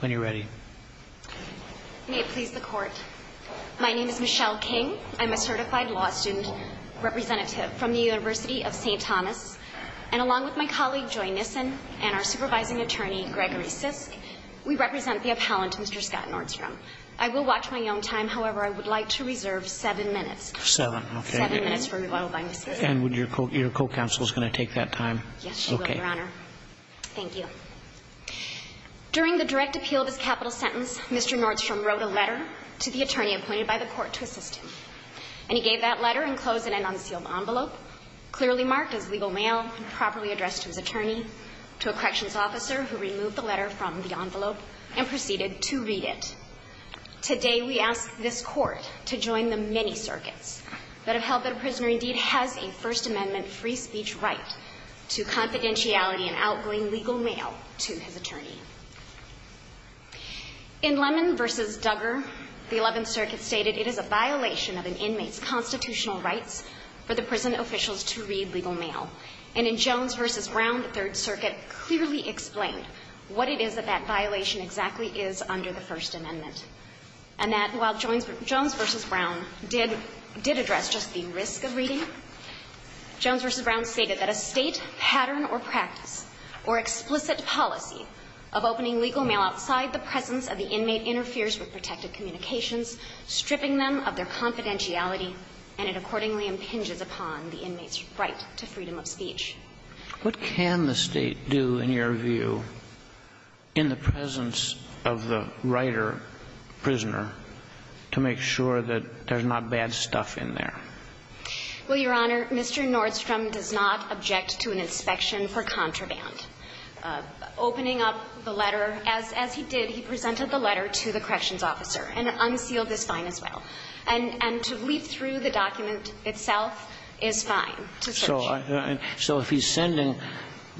When you're ready May it please the court My name is Michelle King. I'm a certified law student Representative from the University of St. Thomas and along with my colleague Joy Nissen and our supervising attorney Gregory Sisk We represent the appellant mr. Scott Nordstrom. I will watch my own time. However, I would like to reserve seven minutes seven And would your coat your co-counsel is going to take that time yes, okay Thank you During the direct appeal of his capital sentence. Mr. Nordstrom wrote a letter to the attorney appointed by the court to assist him And he gave that letter and closed it in unsealed envelope Clearly marked as legal mail and properly addressed to his attorney to a corrections officer who removed the letter from the envelope and proceeded to read it Today we ask this court to join the many circuits that have held that a prisoner indeed has a First Amendment free speech right To confidentiality and outgoing legal mail to his attorney In Lemon versus Duggar the 11th Circuit stated it is a violation of an inmate's constitutional rights For the prison officials to read legal mail and in Jones versus Brown the Third Circuit clearly explained what it is that that violation exactly is under the First Amendment and That while Jones Jones versus Brown did did address just the risk of reading Jones versus Brown stated that a state pattern or practice or Explicit policy of opening legal mail outside the presence of the inmate interferes with protected communications Stripping them of their confidentiality and it accordingly impinges upon the inmates right to freedom of speech What can the state do in your view? in the presence of the writer Prisoner to make sure that there's not bad stuff in there Well, your honor, mr. Nordstrom does not object to an inspection for contraband Opening up the letter as as he did he presented the letter to the corrections officer and unsealed this fine as well And and to leaf through the document itself is fine So if he's sending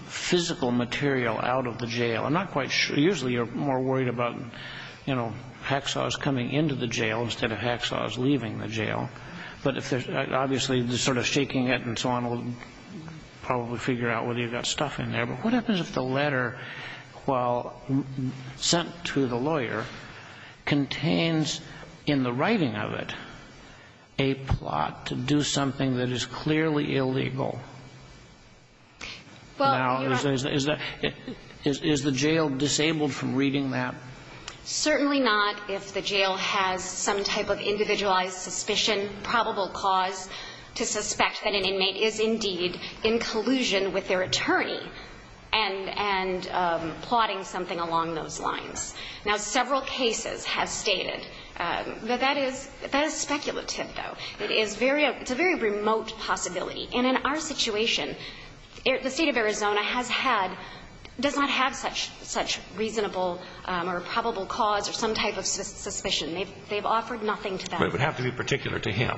Physical material out of the jail. I'm not quite sure usually you're more worried about You know Hacksaw's coming into the jail instead of Hacksaw's leaving the jail, but if there's obviously just sort of shaking it and so on old Probably figure out whether you've got stuff in there. But what happens if the letter? well sent to the lawyer contains in the writing of it a Plot to do something that is clearly illegal Well, is that is the jail disabled from reading that Certainly not if the jail has some type of individualized suspicion probable cause to suspect that an inmate is indeed in collusion with their attorney and and Plotting something along those lines now several cases have stated That that is that is speculative though It's a very remote possibility and in our situation The state of Arizona has had does not have such such reasonable or probable cause or some type of suspicion They've they've offered nothing to them. It would have to be particular to him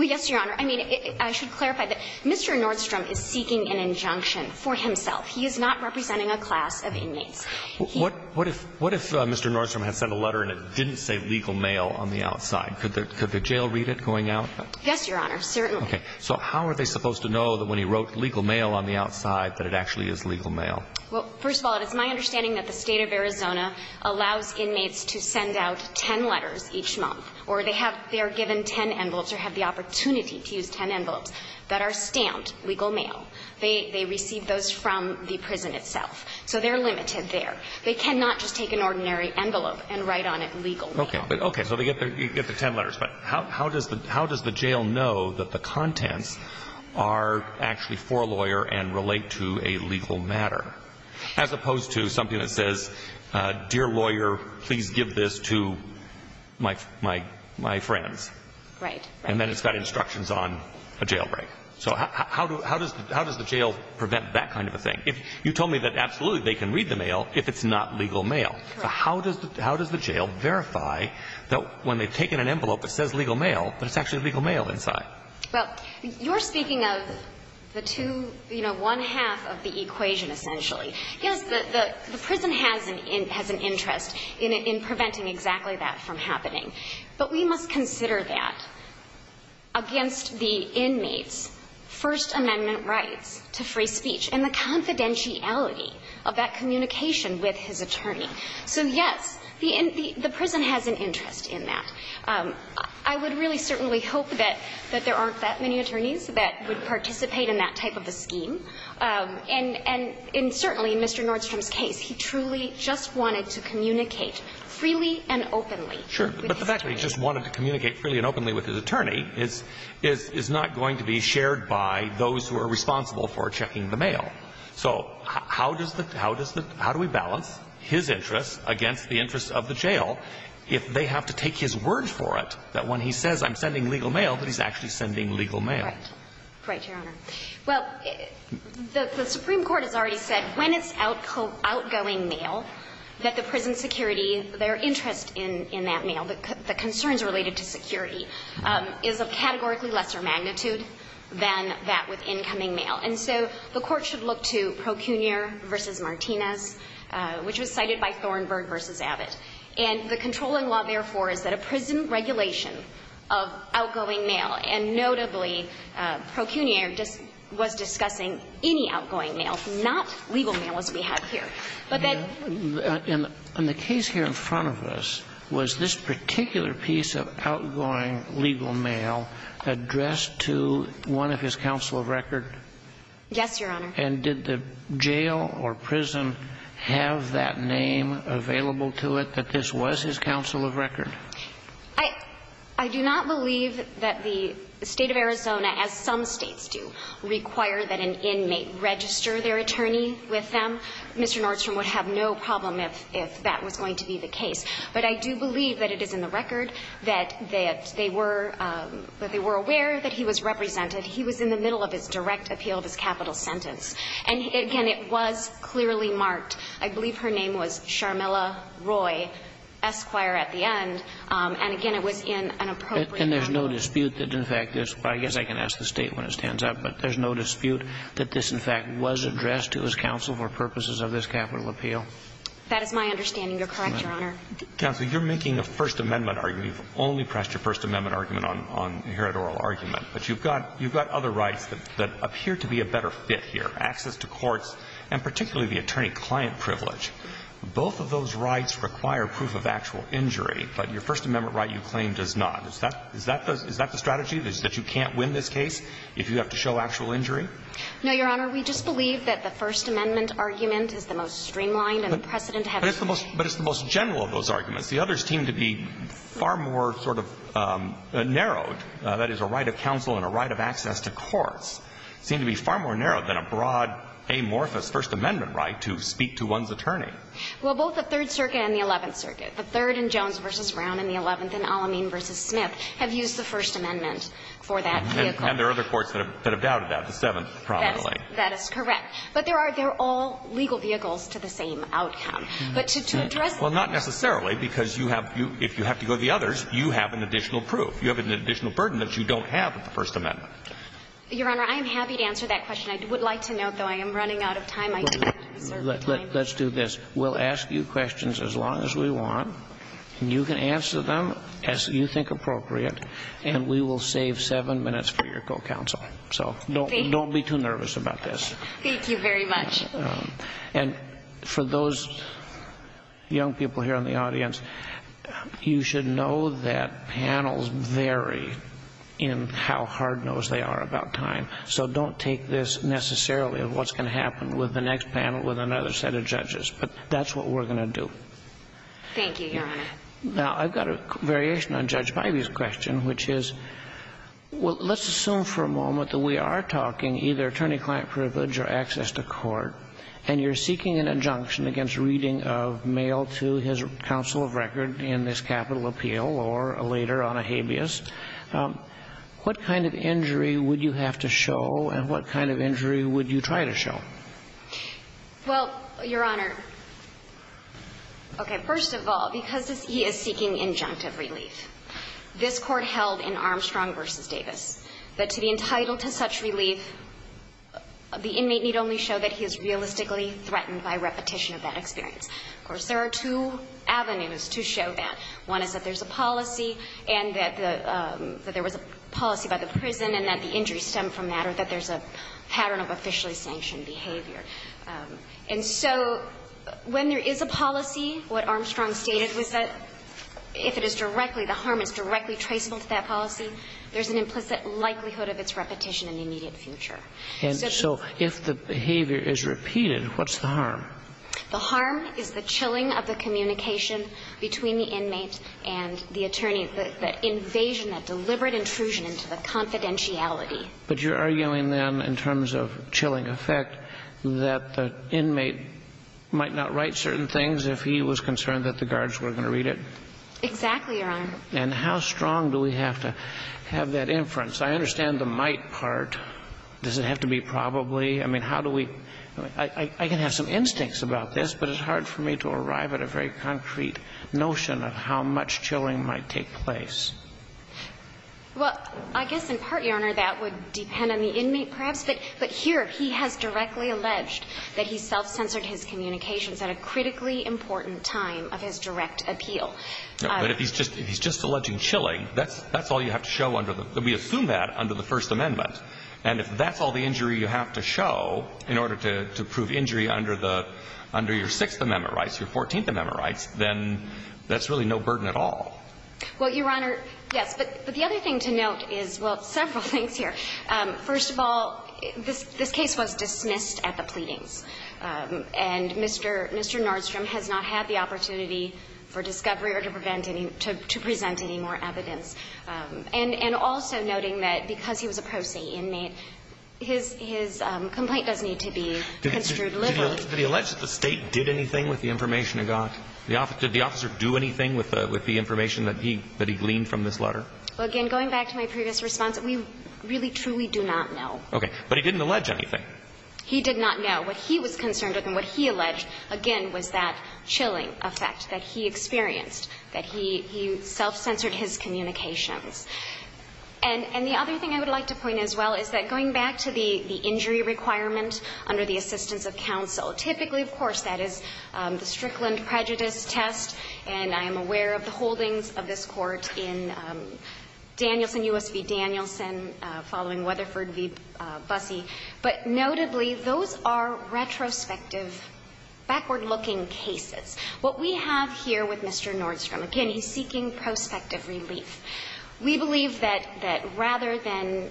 Well, yes, Your Honor. I mean, I should clarify that. Mr. Nordstrom is seeking an injunction for himself He is not representing a class of inmates What what if what if mr Nordstrom had sent a letter and it didn't say legal mail on the outside could the jail read it going out? Yes, Your Honor, certainly Okay, so how are they supposed to know that when he wrote legal mail on the outside that it actually is legal mail? Well, first of all, it's my understanding that the state of Arizona allows inmates to send out ten letters each month or they have they are given ten envelopes or have the Opportunity to use ten envelopes that are stamped legal mail. They they receive those from the prison itself So they're limited there. They cannot just take an ordinary envelope and write on it legal. Okay. Okay, so they get there You get the ten letters, but how does the how does the jail know that the contents are? Actually for a lawyer and relate to a legal matter as opposed to something that says Dear lawyer, please give this to My my my friends right and then it's got instructions on a jailbreak So, how do how does how does the jail prevent that kind of a thing if you told me that absolutely they can read the mail If it's not legal mail, how does how does the jail verify that when they've taken an envelope that says legal mail? But it's actually legal mail inside. Well, you're speaking of the two, you know one half of the equation essentially Yes, the prison has an in has an interest in preventing exactly that from happening, but we must consider that Against the inmates First amendment rights to free speech and the confidentiality of that communication with his attorney So yes, the in the the prison has an interest in that I would really certainly hope that that there aren't that many attorneys that would participate in that type of a scheme And and in certainly mr. Nordstrom's case. He truly just wanted to communicate freely and openly Sure, but the fact that he just wanted to communicate freely and openly with his attorney It's is is not going to be shared by those who are responsible for checking the mail So, how does the how does the how do we balance his interests against the interests of the jail? If they have to take his word for it that when he says I'm sending legal mail that he's actually sending legal mail Well The Supreme Court has already said when it's out cold outgoing mail That the prison security their interest in in that mail that the concerns related to security Is a categorically lesser magnitude than that with incoming mail and so the court should look to Procunior versus Martinez which was cited by Thornburg versus Abbott and the controlling law therefore is that a prison regulation of outgoing mail and notably Procunior just was discussing any outgoing mail not legal mail as we have here But then in the case here in front of us was this particular piece of outgoing legal mail? Addressed to one of his counsel of record Yes, your honor and did the jail or prison have that name available to it that this was his counsel of record I I do not believe that the state of Arizona as some states do Require that an inmate register their attorney with them. Mr. Nordstrom would have no problem if that was going to be the case But I do believe that it is in the record that that they were But they were aware that he was represented He was in the middle of his direct appeal of his capital sentence and again, it was clearly marked I believe her name was Sharmilla Roy Esquire at the end and again, it was in an appropriate and there's no dispute that in fact I guess I can ask the state when it stands up But there's no dispute that this in fact was addressed to his counsel for purposes of this capital appeal That is my understanding. You're correct your honor Counsel, you're making a First Amendment argument only pressed your First Amendment argument on here at oral argument But you've got you've got other rights that appear to be a better fit here access to courts and particularly the attorney-client privilege Both of those rights require proof of actual injury But your First Amendment right you claim does not is that is that does is that the strategy? There's that you can't win this case if you have to show actual injury No, your honor We just believe that the First Amendment argument is the most streamlined and precedent have it's the most but it's the most general of those arguments the others seem to be far more sort of Narrowed that is a right of counsel and a right of access to courts seem to be far more narrowed than a broad Amorphous First Amendment right to speak to one's attorney Well both the Third Circuit and the Eleventh Circuit the third and Jones versus Brown in the 11th and Alameen versus Smith have used the First Amendment for that and there are other courts that have doubted that the seventh probably that is correct But there are they're all legal vehicles to the same outcome But to address well, not necessarily because you have you if you have to go to the others You have an additional proof you have an additional burden that you don't have with the First Amendment Your honor. I am happy to answer that question. I would like to note though. I am running out of time Let's do this we'll ask you questions as long as we want and you can answer them as you think appropriate and We will save seven minutes for your co-counsel. So don't don't be too nervous about this. Thank you very much and for those young people here in the audience You should know that Panels vary in how hard nose they are about time So don't take this necessarily of what's going to happen with the next panel with another set of judges, but that's what we're gonna do Thank you. Now. I've got a variation on Judge Biby's question, which is Well, let's assume for a moment that we are talking either attorney-client privilege or access to court and you're seeking an injunction against reading Of mail to his counsel of record in this capital appeal or a later on a habeas What kind of injury would you have to show and what kind of injury would you try to show Well, your honor Okay, first of all because this he is seeking injunctive relief This court held in Armstrong versus Davis that to be entitled to such relief The inmate need only show that he is realistically threatened by repetition of that experience. Of course, there are two Avenues to show that one is that there's a policy and that the There was a policy by the prison and that the injury stemmed from that or that there's a pattern of officially sanctioned behavior and so When there is a policy what Armstrong stated was that if it is directly the harm is directly traceable to that policy There's an implicit likelihood of its repetition in the immediate future. And so if the behavior is repeated, what's the harm? The harm is the chilling of the communication between the inmate and the attorney the invasion that deliberate intrusion into the Confidentiality, but you're arguing them in terms of chilling effect that the inmate Might not write certain things if he was concerned that the guards were going to read it Exactly, your honor and how strong do we have to have that inference? I understand the might part Does it have to be probably I mean, how do we I can have some instincts about this But it's hard for me to arrive at a very concrete notion of how much chilling might take place Well, I guess in part your honor that would depend on the inmate perhaps But but here he has directly alleged that he self-censored his communications at a critically important time of his direct appeal But if he's just he's just alleging chilling That's that's all you have to show under the we assume that under the First Amendment and if that's all the injury you have to show in order to prove injury under the Under your sixth amendment rights your 14th amendment rights, then that's really no burden at all Well, your honor. Yes, but but the other thing to note is well several things here First of all, this this case was dismissed at the pleadings And mr. Mr. Nordstrom has not had the opportunity for discovery or to prevent any to present any more evidence And and also noting that because he was a pro se inmate His his complaint does need to be Delivered to the alleged that the state did anything with the information I got the office did the officer do anything with the with the information that he that he gleaned from this letter? Again, going back to my previous response. We really truly do not know. Okay, but he didn't allege anything He did not know what he was concerned with and what he alleged again was that chilling effect that he experienced that he he self-censored his communications and And the other thing I would like to point as well Is that going back to the the injury requirement under the assistance of counsel typically, of course, that is the Strickland prejudice test and I am aware of the holdings of this court in Danielson USP Danielson following Weatherford v. Bussey, but notably those are Retrospective Backward looking cases what we have here with mr. Nordstrom again. He's seeking prospective relief We believe that that rather than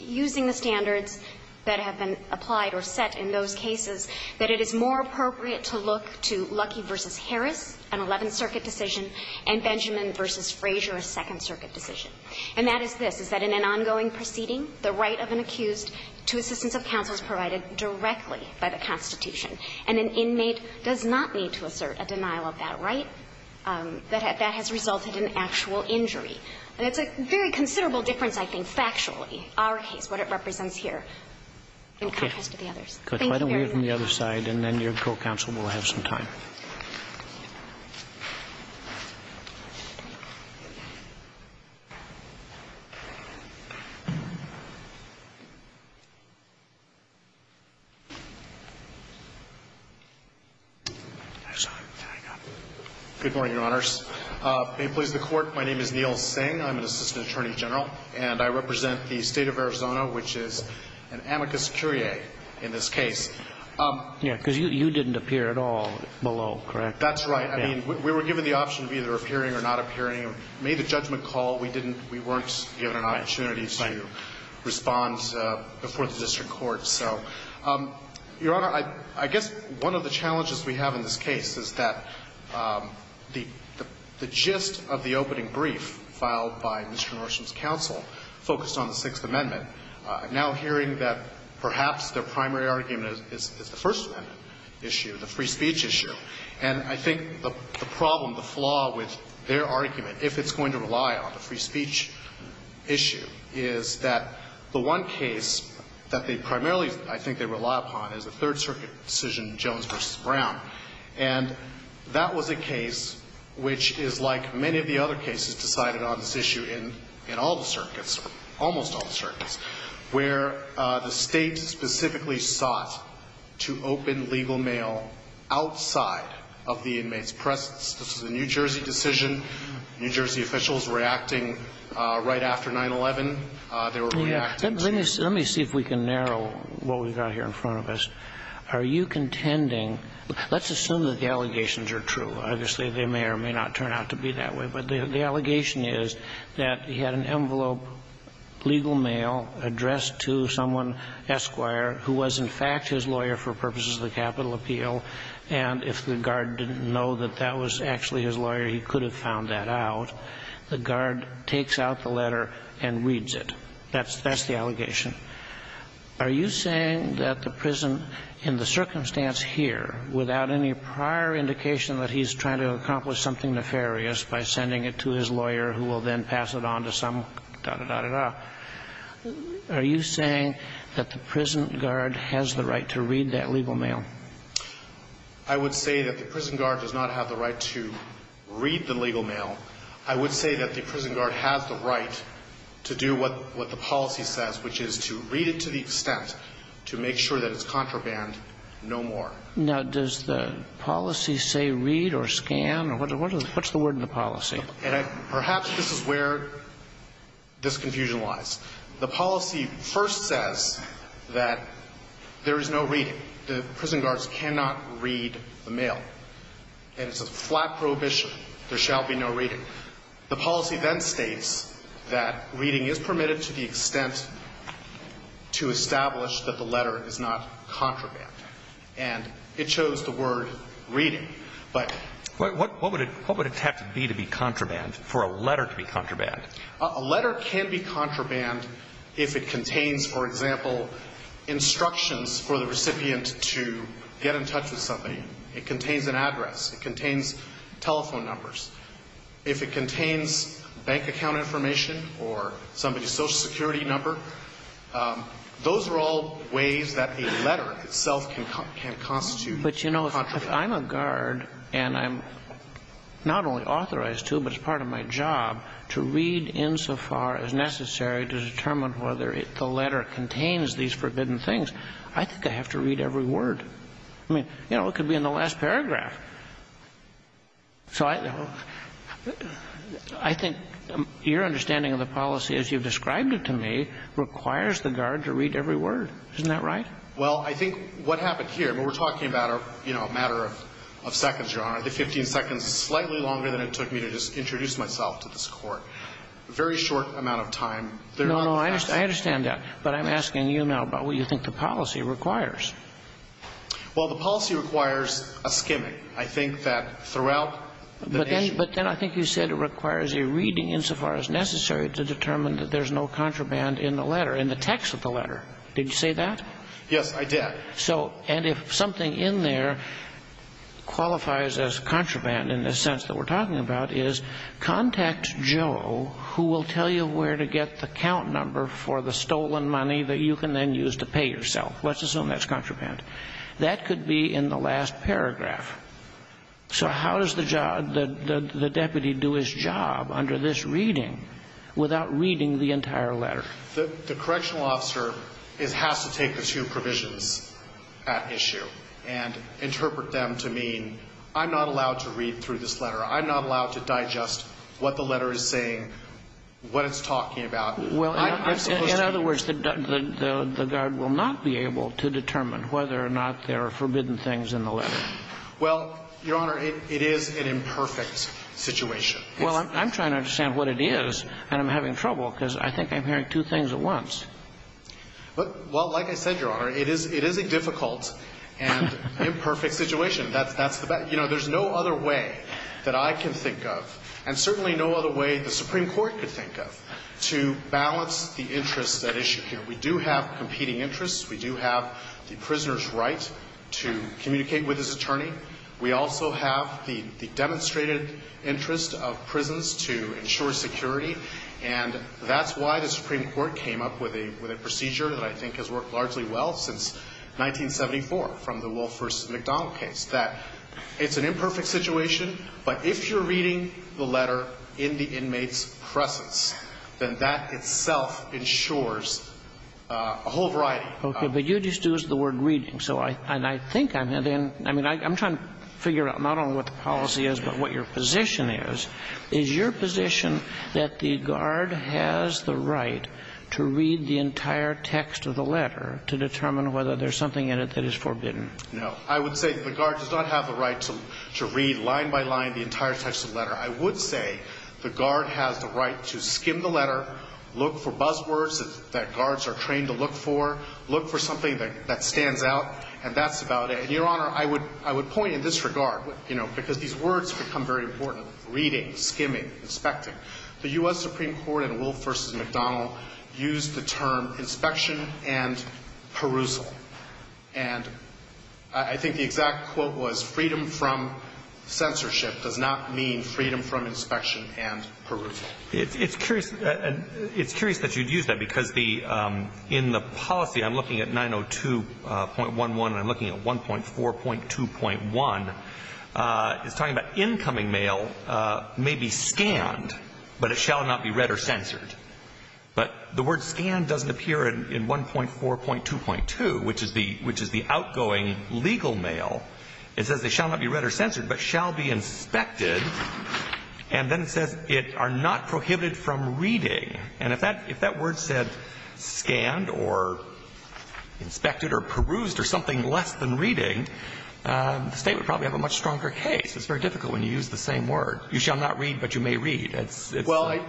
Using the standards that have been applied or set in those cases that it is more appropriate to look to lucky versus Harris an 11th Circuit decision and Benjamin versus Frazier a Second Circuit decision and that is this is that in an ongoing Proceeding the right of an accused to assistance of counsel is provided directly by the Constitution and an inmate does not need to assert a Denial of that right That that has resulted in actual injury and it's a very considerable difference. I think factually our case what it represents here In contrast to the others, but I don't hear from the other side and then your co-counsel will have some time Good morning, your honors. May it please the court. My name is Neil saying I'm an assistant attorney general and I represent the state of Arizona Which is an amicus curiae in this case Yeah, because you didn't appear at all below, correct? That's right I mean we were given the option of either appearing or not appearing made a judgment call We didn't we weren't given an opportunity to make a judgment call We were given the option of either appearing or not appearing Responds before the district court. So Your honor, I I guess one of the challenges we have in this case. Is that The the gist of the opening brief filed by Mr. Norton's counsel focused on the Sixth Amendment Now hearing that perhaps their primary argument is the first one Issue the free speech issue and I think the problem the flaw with their argument if it's going to rely on the free speech Issue is that the one case that they primarily I think they rely upon is a Third Circuit decision Jones versus Brown and That was a case Which is like many of the other cases decided on this issue in in all the circuits almost all the circuits where? The state specifically sought to open legal mail Outside of the inmates presence. This is a New Jersey decision New Jersey officials reacting right after 9-11 Let me see if we can narrow what we've got here in front of us. Are you contending? Let's assume that the allegations are true Obviously, they may or may not turn out to be that way, but the allegation is that he had an envelope legal mail addressed to someone Esquire who was in fact his lawyer for purposes of the capital appeal And if the guard didn't know that that was actually his lawyer He could have found that out the guard takes out the letter and reads it. That's that's the allegation Are you saying that the prison in the circumstance here without any prior? Indication that he's trying to accomplish something nefarious by sending it to his lawyer who will then pass it on to some Are you saying that the prison guard has the right to read that legal mail I Would say that the prison guard does not have the right to read the legal mail I would say that the prison guard has the right to do what what the policy says Which is to read it to the extent to make sure that it's contraband No more now does the policy say read or scan or what? What's the word in the policy and perhaps this is where? this confusion lies the policy first says that There is no reading the prison guards cannot read the mail And it's a flat prohibition. There shall be no reading the policy then states that reading is permitted to the extent To establish that the letter is not contraband and it shows the word reading But what would it what would it have to be to be contraband for a letter to be contraband a letter can be contraband? If it contains for example Instructions for the recipient to get in touch with somebody it contains an address it contains telephone numbers If it contains bank account information or somebody social security number Those are all ways that a letter itself can come can constitute, but you know, I'm a guard and I'm Not only authorized to but it's part of my job to read insofar as necessary to determine whether it the letter Contains these forbidden things. I think I have to read every word. I mean, you know, it could be in the last paragraph So I know I Think your understanding of the policy as you've described it to me requires the guard to read every word. Isn't that right? Well, I think what happened here but we're talking about our you know a matter of Seconds your honor the 15 seconds slightly longer than it took me to just introduce myself to this court a very short amount of time No, no, I understand that but I'm asking you now about what you think the policy requires Well, the policy requires a skimming. I think that throughout But then I think you said it requires a reading insofar as necessary to determine that there's no contraband in the letter in the text Of the letter. Did you say that? Yes, I did. So and if something in there qualifies as contraband in the sense that we're talking about is Contact Joe who will tell you where to get the count number for the stolen money that you can then use to pay yourself Let's assume that's contraband that could be in the last paragraph So, how does the job that the deputy do his job under this reading? Without reading the entire letter that the correctional officer is has to take the two provisions at issue and What the letter is saying What it's talking about? Well, in other words that the the guard will not be able to determine whether or not there are forbidden things in the letter Well, Your Honor, it is an imperfect situation Well, I'm trying to understand what it is and I'm having trouble because I think I'm hearing two things at once But well, like I said, Your Honor, it is it is a difficult and imperfect situation You know, there's no other way that I can think of and certainly no other way the Supreme Court could think of To balance the interests at issue here. We do have competing interests We do have the prisoners right to communicate with his attorney we also have the demonstrated interest of prisons to ensure security and That's why the Supreme Court came up with a with a procedure that I think has worked largely well since 1974 from the Wolfe versus McDonald case that it's an imperfect situation But if you're reading the letter in the inmates presence, then that itself ensures A whole variety. Okay, but you just used the word reading So I and I think I'm in I mean, I'm trying to figure out not only what the policy is But what your position is is your position that the guard has the right? To read the entire text of the letter to determine whether there's something in it that is forbidden No, I would say the guard does not have the right to to read line by line the entire text of the letter I would say the guard has the right to skim the letter Look for buzzwords that guards are trained to look for look for something that that stands out and that's about it And your honor I would I would point in this regard, you know Use the term inspection and perusal and I think the exact quote was freedom from Censorship does not mean freedom from inspection and perusal. It's curious It's curious that you'd use that because the in the policy. I'm looking at 902 0.11 and I'm looking at one point four point two point one It's talking about incoming mail May be scanned but it shall not be read or censored But the word scan doesn't appear in one point four point two point two, which is the which is the outgoing legal mail it says they shall not be read or censored, but shall be inspected and then it says it are not prohibited from reading and if that if that word said scanned or Inspected or perused or something less than reading The state would probably have a much stronger case. It's very difficult when you use the same word You shall not read but you may read it's well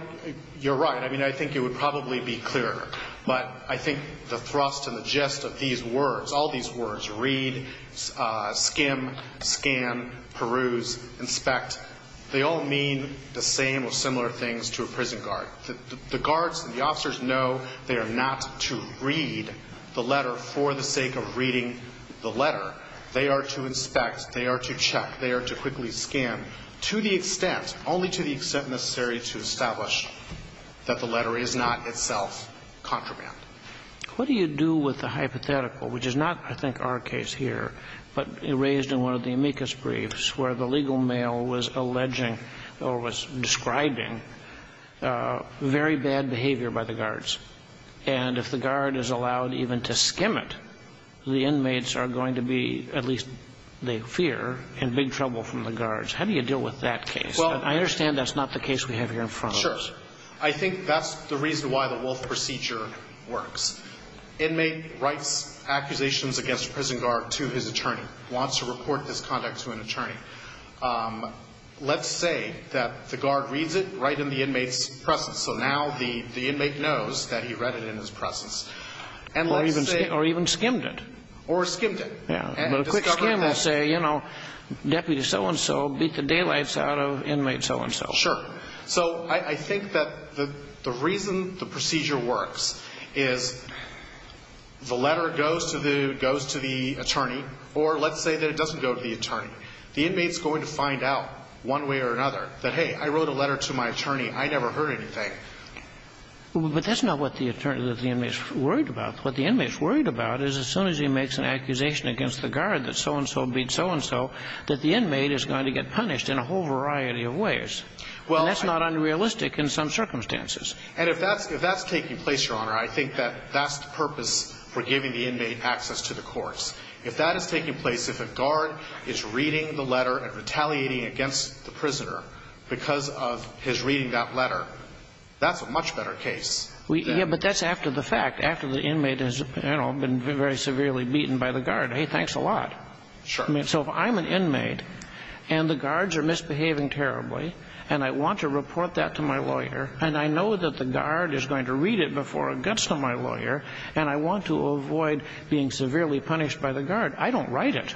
You're right I mean, I think it would probably be clearer but I think the thrust and the gist of these words all these words read skim scan peruse inspect They all mean the same or similar things to a prison guard the guards and the officers know They are not to read the letter for the sake of reading the letter. They are to inspect They are to check they are to quickly scan to the extent only to the extent necessary to establish That the letter is not itself contraband What do you do with the hypothetical which is not I think our case here But it raised in one of the amicus briefs where the legal mail was alleging or was describing Very bad behavior by the guards and if the guard is allowed even to skim it The inmates are going to be at least they fear and big trouble from the guards How do you deal with that case? Well, I understand that's not the case we have here in front Sure, I think that's the reason why the wolf procedure works Inmate writes accusations against prison guard to his attorney wants to report this conduct to an attorney Let's say that the guard reads it right in the inmates presence So now the the inmate knows that he read it in his presence and let's say or even skimmed it or skimmed it Yeah, I'm gonna say, you know Deputy so-and-so beat the daylights out of inmate so-and-so sure so I think that the the reason the procedure works is The letter goes to the goes to the attorney or let's say that it doesn't go to the attorney The inmates going to find out one way or another that hey, I wrote a letter to my attorney. I never heard anything But that's not what the attorney that the inmates worried about what the inmates worried about is as soon as he makes an accusation Against the guard that so-and-so beat so-and-so that the inmate is going to get punished in a whole variety of ways Well, that's not unrealistic in some circumstances and if that's if that's taking place your honor I think that that's the purpose for giving the inmate access to the courts if that is taking place if a guard is Reading the letter and retaliating against the prisoner because of his reading that letter That's a much better case. We yeah, but that's after the fact after the inmate is, you know I've been very severely beaten by the guard. Hey, thanks a lot Sure I mean so if I'm an inmate and The guards are misbehaving terribly and I want to report that to my lawyer and I know that the guard is going to read it Before it gets to my lawyer and I want to avoid being severely punished by the guard. I don't write it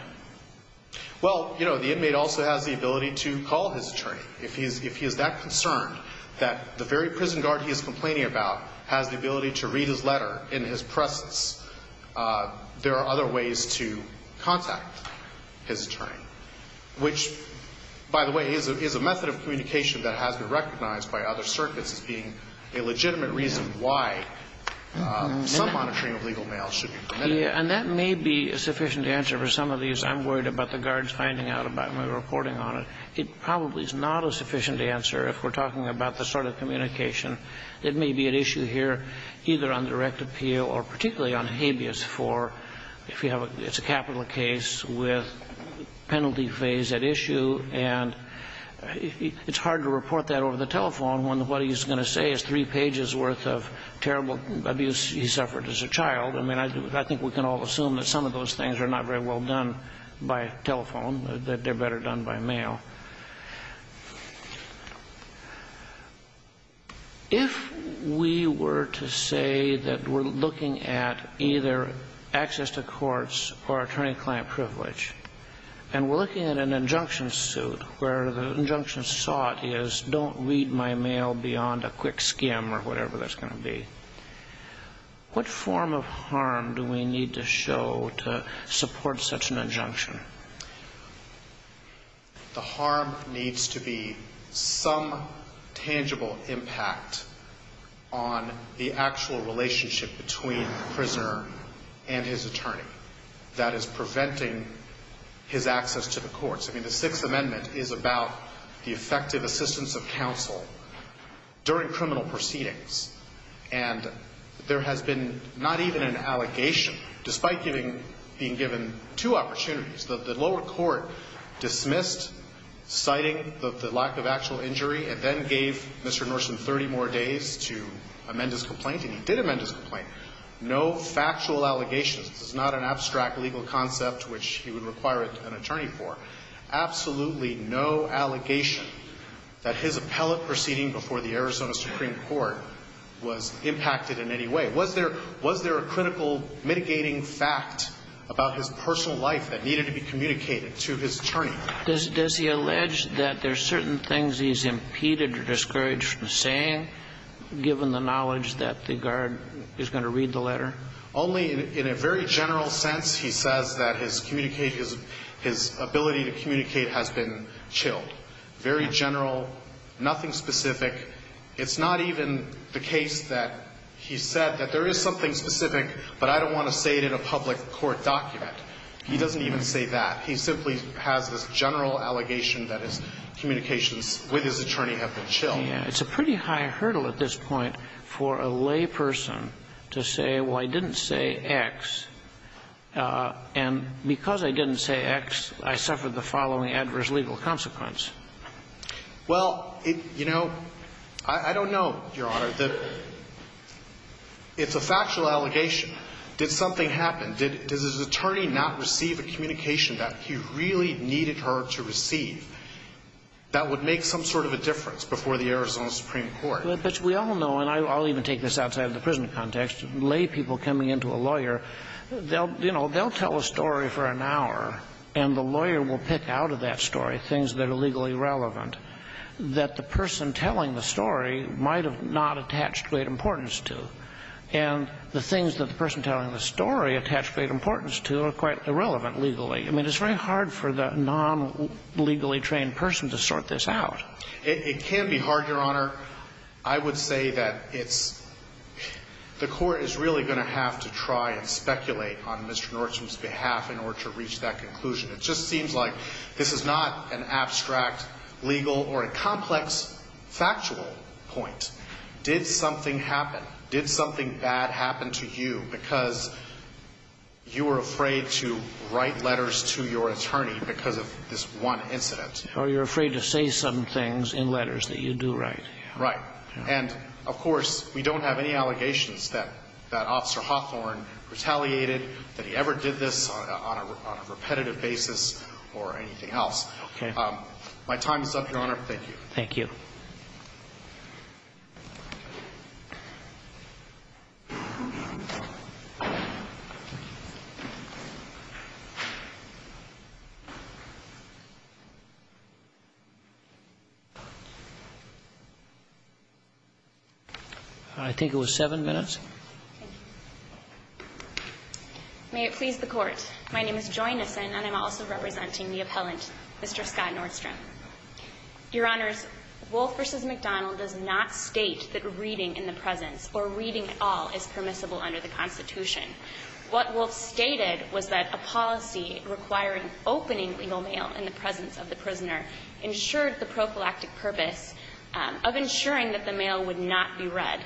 Well, you know the inmate also has the ability to call his attorney if he's if he is that concerned that The very prison guard he is complaining about has the ability to read his letter in his presence there are other ways to contact his attorney which By the way is a method of communication that has been recognized by other circuits as being a legitimate reason why? And that may be a sufficient answer for some of these I'm worried about the guards finding out about my reporting on it Probably is not a sufficient answer if we're talking about the sort of communication it may be an issue here either on direct appeal or particularly on habeas for if you have a it's a capital case with penalty phase at issue and It's hard to report that over the telephone when what he's going to say is three pages worth of terrible abuse He suffered as a child I mean, I think we can all assume that some of those things are not very well done by telephone that they're better done by mail If We were to say that we're looking at either access to courts or attorney-client privilege and We're looking at an injunction suit where the injunction sought is don't read my mail beyond a quick skim or whatever That's going to be What form of harm do we need to show to support such an injunction? The Harm needs to be some tangible impact on the actual relationship between Prisoner and his attorney that is preventing His access to the courts. I mean the Sixth Amendment is about the effective assistance of counsel during criminal proceedings and There has been not even an allegation despite giving being given two opportunities that the lower court dismissed Citing the lack of actual injury and then gave mr. Norson 30 more days to amend his complaint and he did amend his complaint no factual allegations It's not an abstract legal concept, which he would require it an attorney for Absolutely, no Allegation that his appellate proceeding before the Arizona Supreme Court was impacted in any way Was there was there a critical mitigating fact about his personal life that needed to be communicated to his attorney? This does he allege that there's certain things. He's impeded or discouraged from saying Given the knowledge that the guard is going to read the letter only in a very general sense He says that his communication his ability to communicate has been chilled very general Nothing specific. It's not even the case that he said that there is something specific But I don't want to say it in a public court document. He doesn't even say that He simply has this general allegation that his communications with his attorney have been chill Yeah, it's a pretty high hurdle at this point for a lay person to say. Well, I didn't say X And because I didn't say X I suffered the following adverse legal consequence Well, you know, I don't know your honor that It's a factual allegation Did something happen did does his attorney not receive a communication that he really needed her to receive? That would make some sort of a difference before the Arizona Supreme Court But we all know and I'll even take this outside of the prison context lay people coming into a lawyer They'll you know, they'll tell a story for an hour and the lawyer will pick out of that story things that are legally relevant that the person telling the story might have not attached great importance to and The things that the person telling the story attached great importance to are quite irrelevant legally. I mean, it's very hard for the non Legally trained person to sort this out. It can be hard your honor. I would say that it's The court is really going to have to try and speculate on mr. Norton's behalf in order to reach that conclusion. It just seems like this is not an abstract legal or a complex factual point did something happen did something bad happen to you because You were afraid to write letters to your attorney because of this one incident Oh, you're afraid to say some things in letters that you do, right? And of course, we don't have any allegations that that officer Hawthorne Retaliated that he ever did this on a repetitive basis or anything else. Okay. My time is up your honor. Thank you Thank you I Think it was seven minutes May it please the court. My name is Joy Nissen and I'm also representing the appellant. Mr. Scott Nordstrom Your honors Wolf versus McDonald does not state that reading in the presence or reading at all is permissible under the Constitution What Wolf stated was that a policy requiring opening legal mail in the presence of the prisoner Ensured the prophylactic purpose Of ensuring that the mail would not be read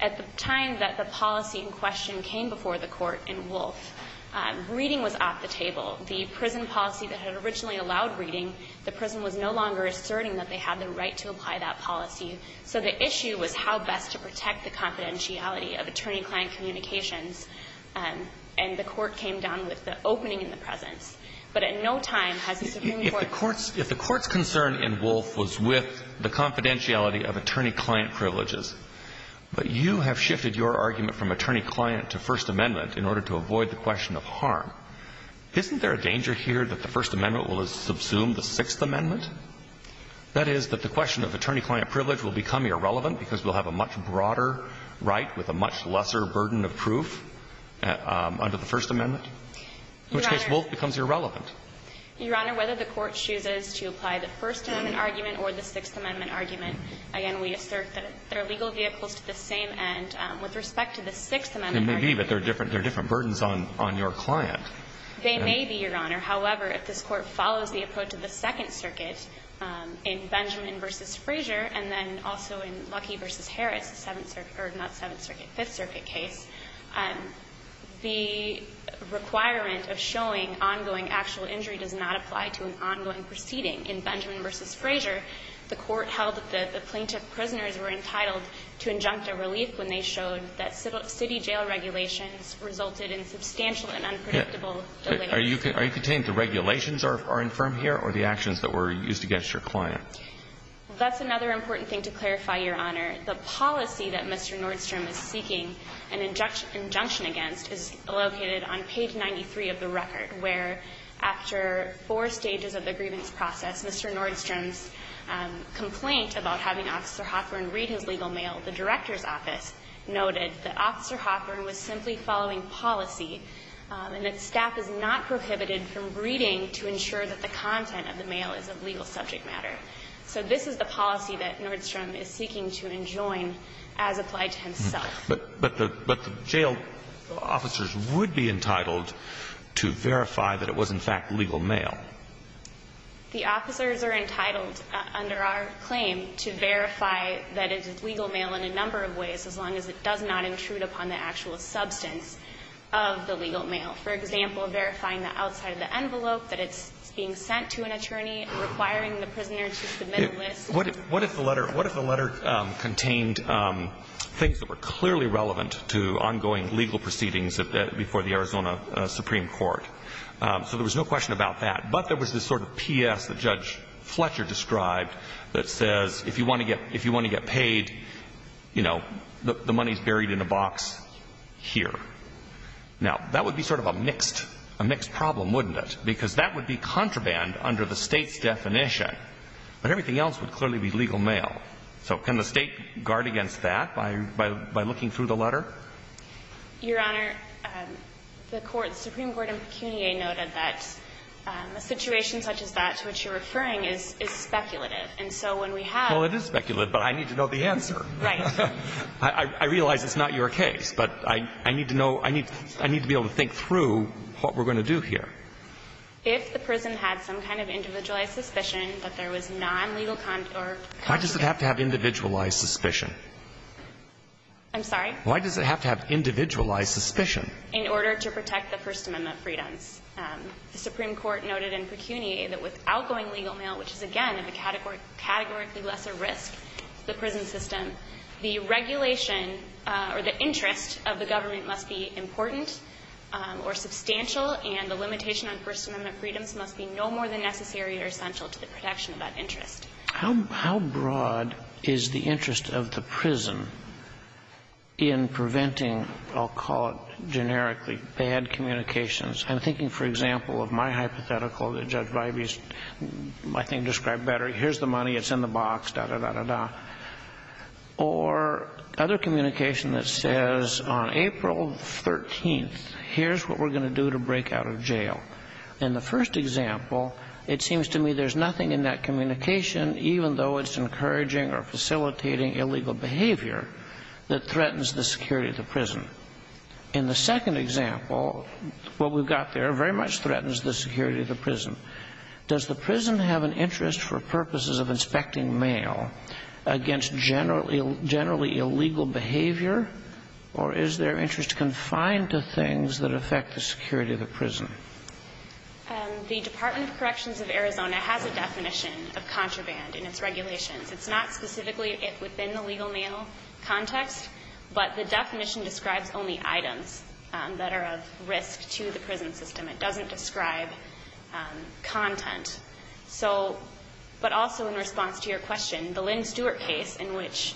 at the time that the policy in question came before the court in Wolf Reading was off the table the prison policy that had originally allowed reading The prison was no longer asserting that they had the right to apply that policy So the issue was how best to protect the confidentiality of attorney-client communications And the court came down with the opening in the presence But at no time has the Supreme Court courts if the court's concern in Wolf was with the confidentiality of attorney-client privileges But you have shifted your argument from attorney-client to First Amendment in order to avoid the question of harm Isn't there a danger here that the First Amendment will subsume the Sixth Amendment? That is that the question of attorney-client privilege will become irrelevant because we'll have a much broader right with a much lesser burden of proof Under the First Amendment In which case Wolf becomes irrelevant Your honor whether the court chooses to apply the First Amendment argument or the Sixth Amendment argument again We assert that there are legal vehicles to the same end with respect to the Sixth Amendment Maybe but they're different they're different burdens on on your client. They may be your honor However, if this court follows the approach of the Second Circuit In Benjamin versus Frazier and then also in Luckey versus Harris the Seventh Circuit or not Seventh Circuit Fifth Circuit case the Requirement of showing ongoing actual injury does not apply to an ongoing proceeding in Benjamin versus Frazier The court held that the plaintiff prisoners were entitled to injunct a relief when they showed that city jail regulations Resulted in substantial and unpredictable Are you contained the regulations are infirm here or the actions that were used against your client? That's another important thing to clarify your honor the policy that mr Nordstrom is seeking an injunction injunction against is located on page 93 of the record where after four stages of the grievance process, mr. Nordstrom's Complaint about having officer Hoffman read his legal mail the director's office Noted that officer Hoffman was simply following policy And that staff is not prohibited from reading to ensure that the content of the mail is of legal subject matter So this is the policy that Nordstrom is seeking to enjoin as applied to himself, but but the but the jail Officers would be entitled to verify that it was in fact legal mail The officers are entitled Under our claim to verify that it is legal mail in a number of ways as long as it does not intrude upon the actual substance of The legal mail for example verifying the outside of the envelope that it's being sent to an attorney Requiring the prisoner to submit what if what if the letter what if the letter? contained Things that were clearly relevant to ongoing legal proceedings of that before the Arizona Supreme Court So there was no question about that But there was this sort of PS that judge Fletcher described that says if you want to get if you want to get paid You know the money's buried in a box here Now that would be sort of a mixed a mixed problem wouldn't it because that would be contraband under the state's definition But everything else would clearly be legal mail. So can the state guard against that by by looking through the letter? your honor the court Supreme Court of Kenya noted that The situation such as that to which you're referring is speculative. And so when we have all it is speculative But I need to know the answer I Realize it's not your case, but I I need to know I need I need to be able to think through What we're going to do here If the prison had some kind of individualized suspicion, but there was non-legal contour. Why does it have to have individualized suspicion? I'm sorry. Why does it have to have individualized suspicion in order to protect the First Amendment freedoms? The Supreme Court noted in pecuniary that with outgoing legal mail, which is again in the category Categorically lesser risk the prison system the regulation or the interest of the government must be important Or substantial and the limitation on First Amendment freedoms must be no more than necessary or essential to the protection of that interest How broad is the interest of the prison? In preventing I'll call it generically bad communications. I'm thinking for example of my hypothetical that Judge Vibey's My thing described better. Here's the money. It's in the box. Da da da da da or other communication that says on April 13th Here's what we're going to do to break out of jail in the first example It seems to me there's nothing in that communication, even though it's encouraging or facilitating illegal behavior That threatens the security of the prison in the second example What we've got there very much threatens the security of the prison does the prison have an interest for purposes of inspecting mail against generally generally illegal behavior Or is their interest confined to things that affect the security of the prison? The Department of Corrections of Arizona has a definition of contraband in its regulations It's not specifically it within the legal mail Context but the definition describes only items that are of risk to the prison system. It doesn't describe content so But also in response to your question the Lynn Stewart case in which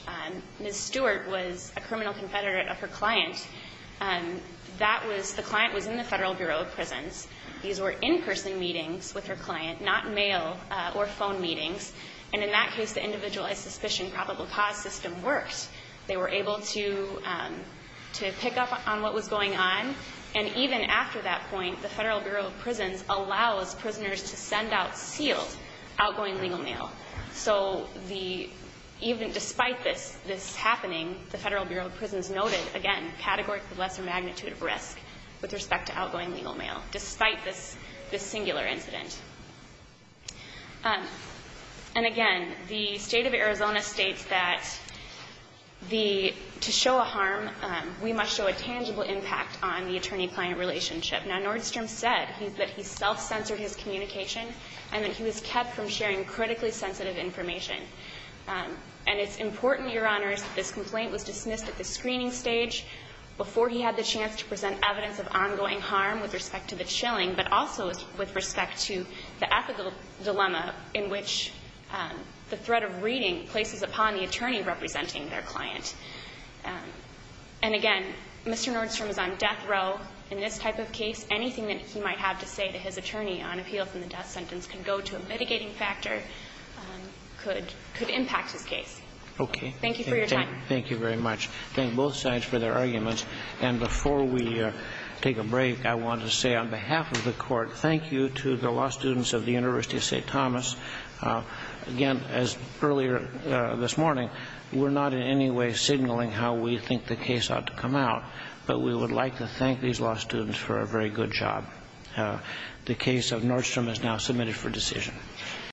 Ms. Stewart was a criminal confederate of her client And that was the client was in the Federal Bureau of Prisons These were in-person meetings with her client not mail or phone meetings And in that case the individualized suspicion probable cause system works. They were able to To pick up on what was going on and even after that point the Federal Bureau of Prisons allows prisoners to send out sealed outgoing legal mail, so the Even despite this this happening the Federal Bureau of Prisons noted again category the lesser magnitude of risk With respect to outgoing legal mail despite this this singular incident And again the state of Arizona states that The to show a harm we must show a tangible impact on the attorney-client relationship now Nordstrom said he's that he Self-censored his communication and that he was kept from sharing critically sensitive information And it's important your honors that this complaint was dismissed at the screening stage Before he had the chance to present evidence of ongoing harm with respect to the chilling but also with respect to the ethical dilemma in which the threat of reading places upon the attorney representing their client and Again, mr. Nordstrom is on death row in this type of case anything that he might have to say to his attorney on appeal from The death sentence can go to a mitigating factor Could could impact his case. Okay. Thank you for your time. Thank you very much Thank both sides for their arguments and before we take a break. I want to say on behalf of the court Thank you to the law students of the University of St. Thomas Again as earlier this morning We're not in any way signaling how we think the case ought to come out But we would like to thank these law students for a very good job The case of Nordstrom is now submitted for decision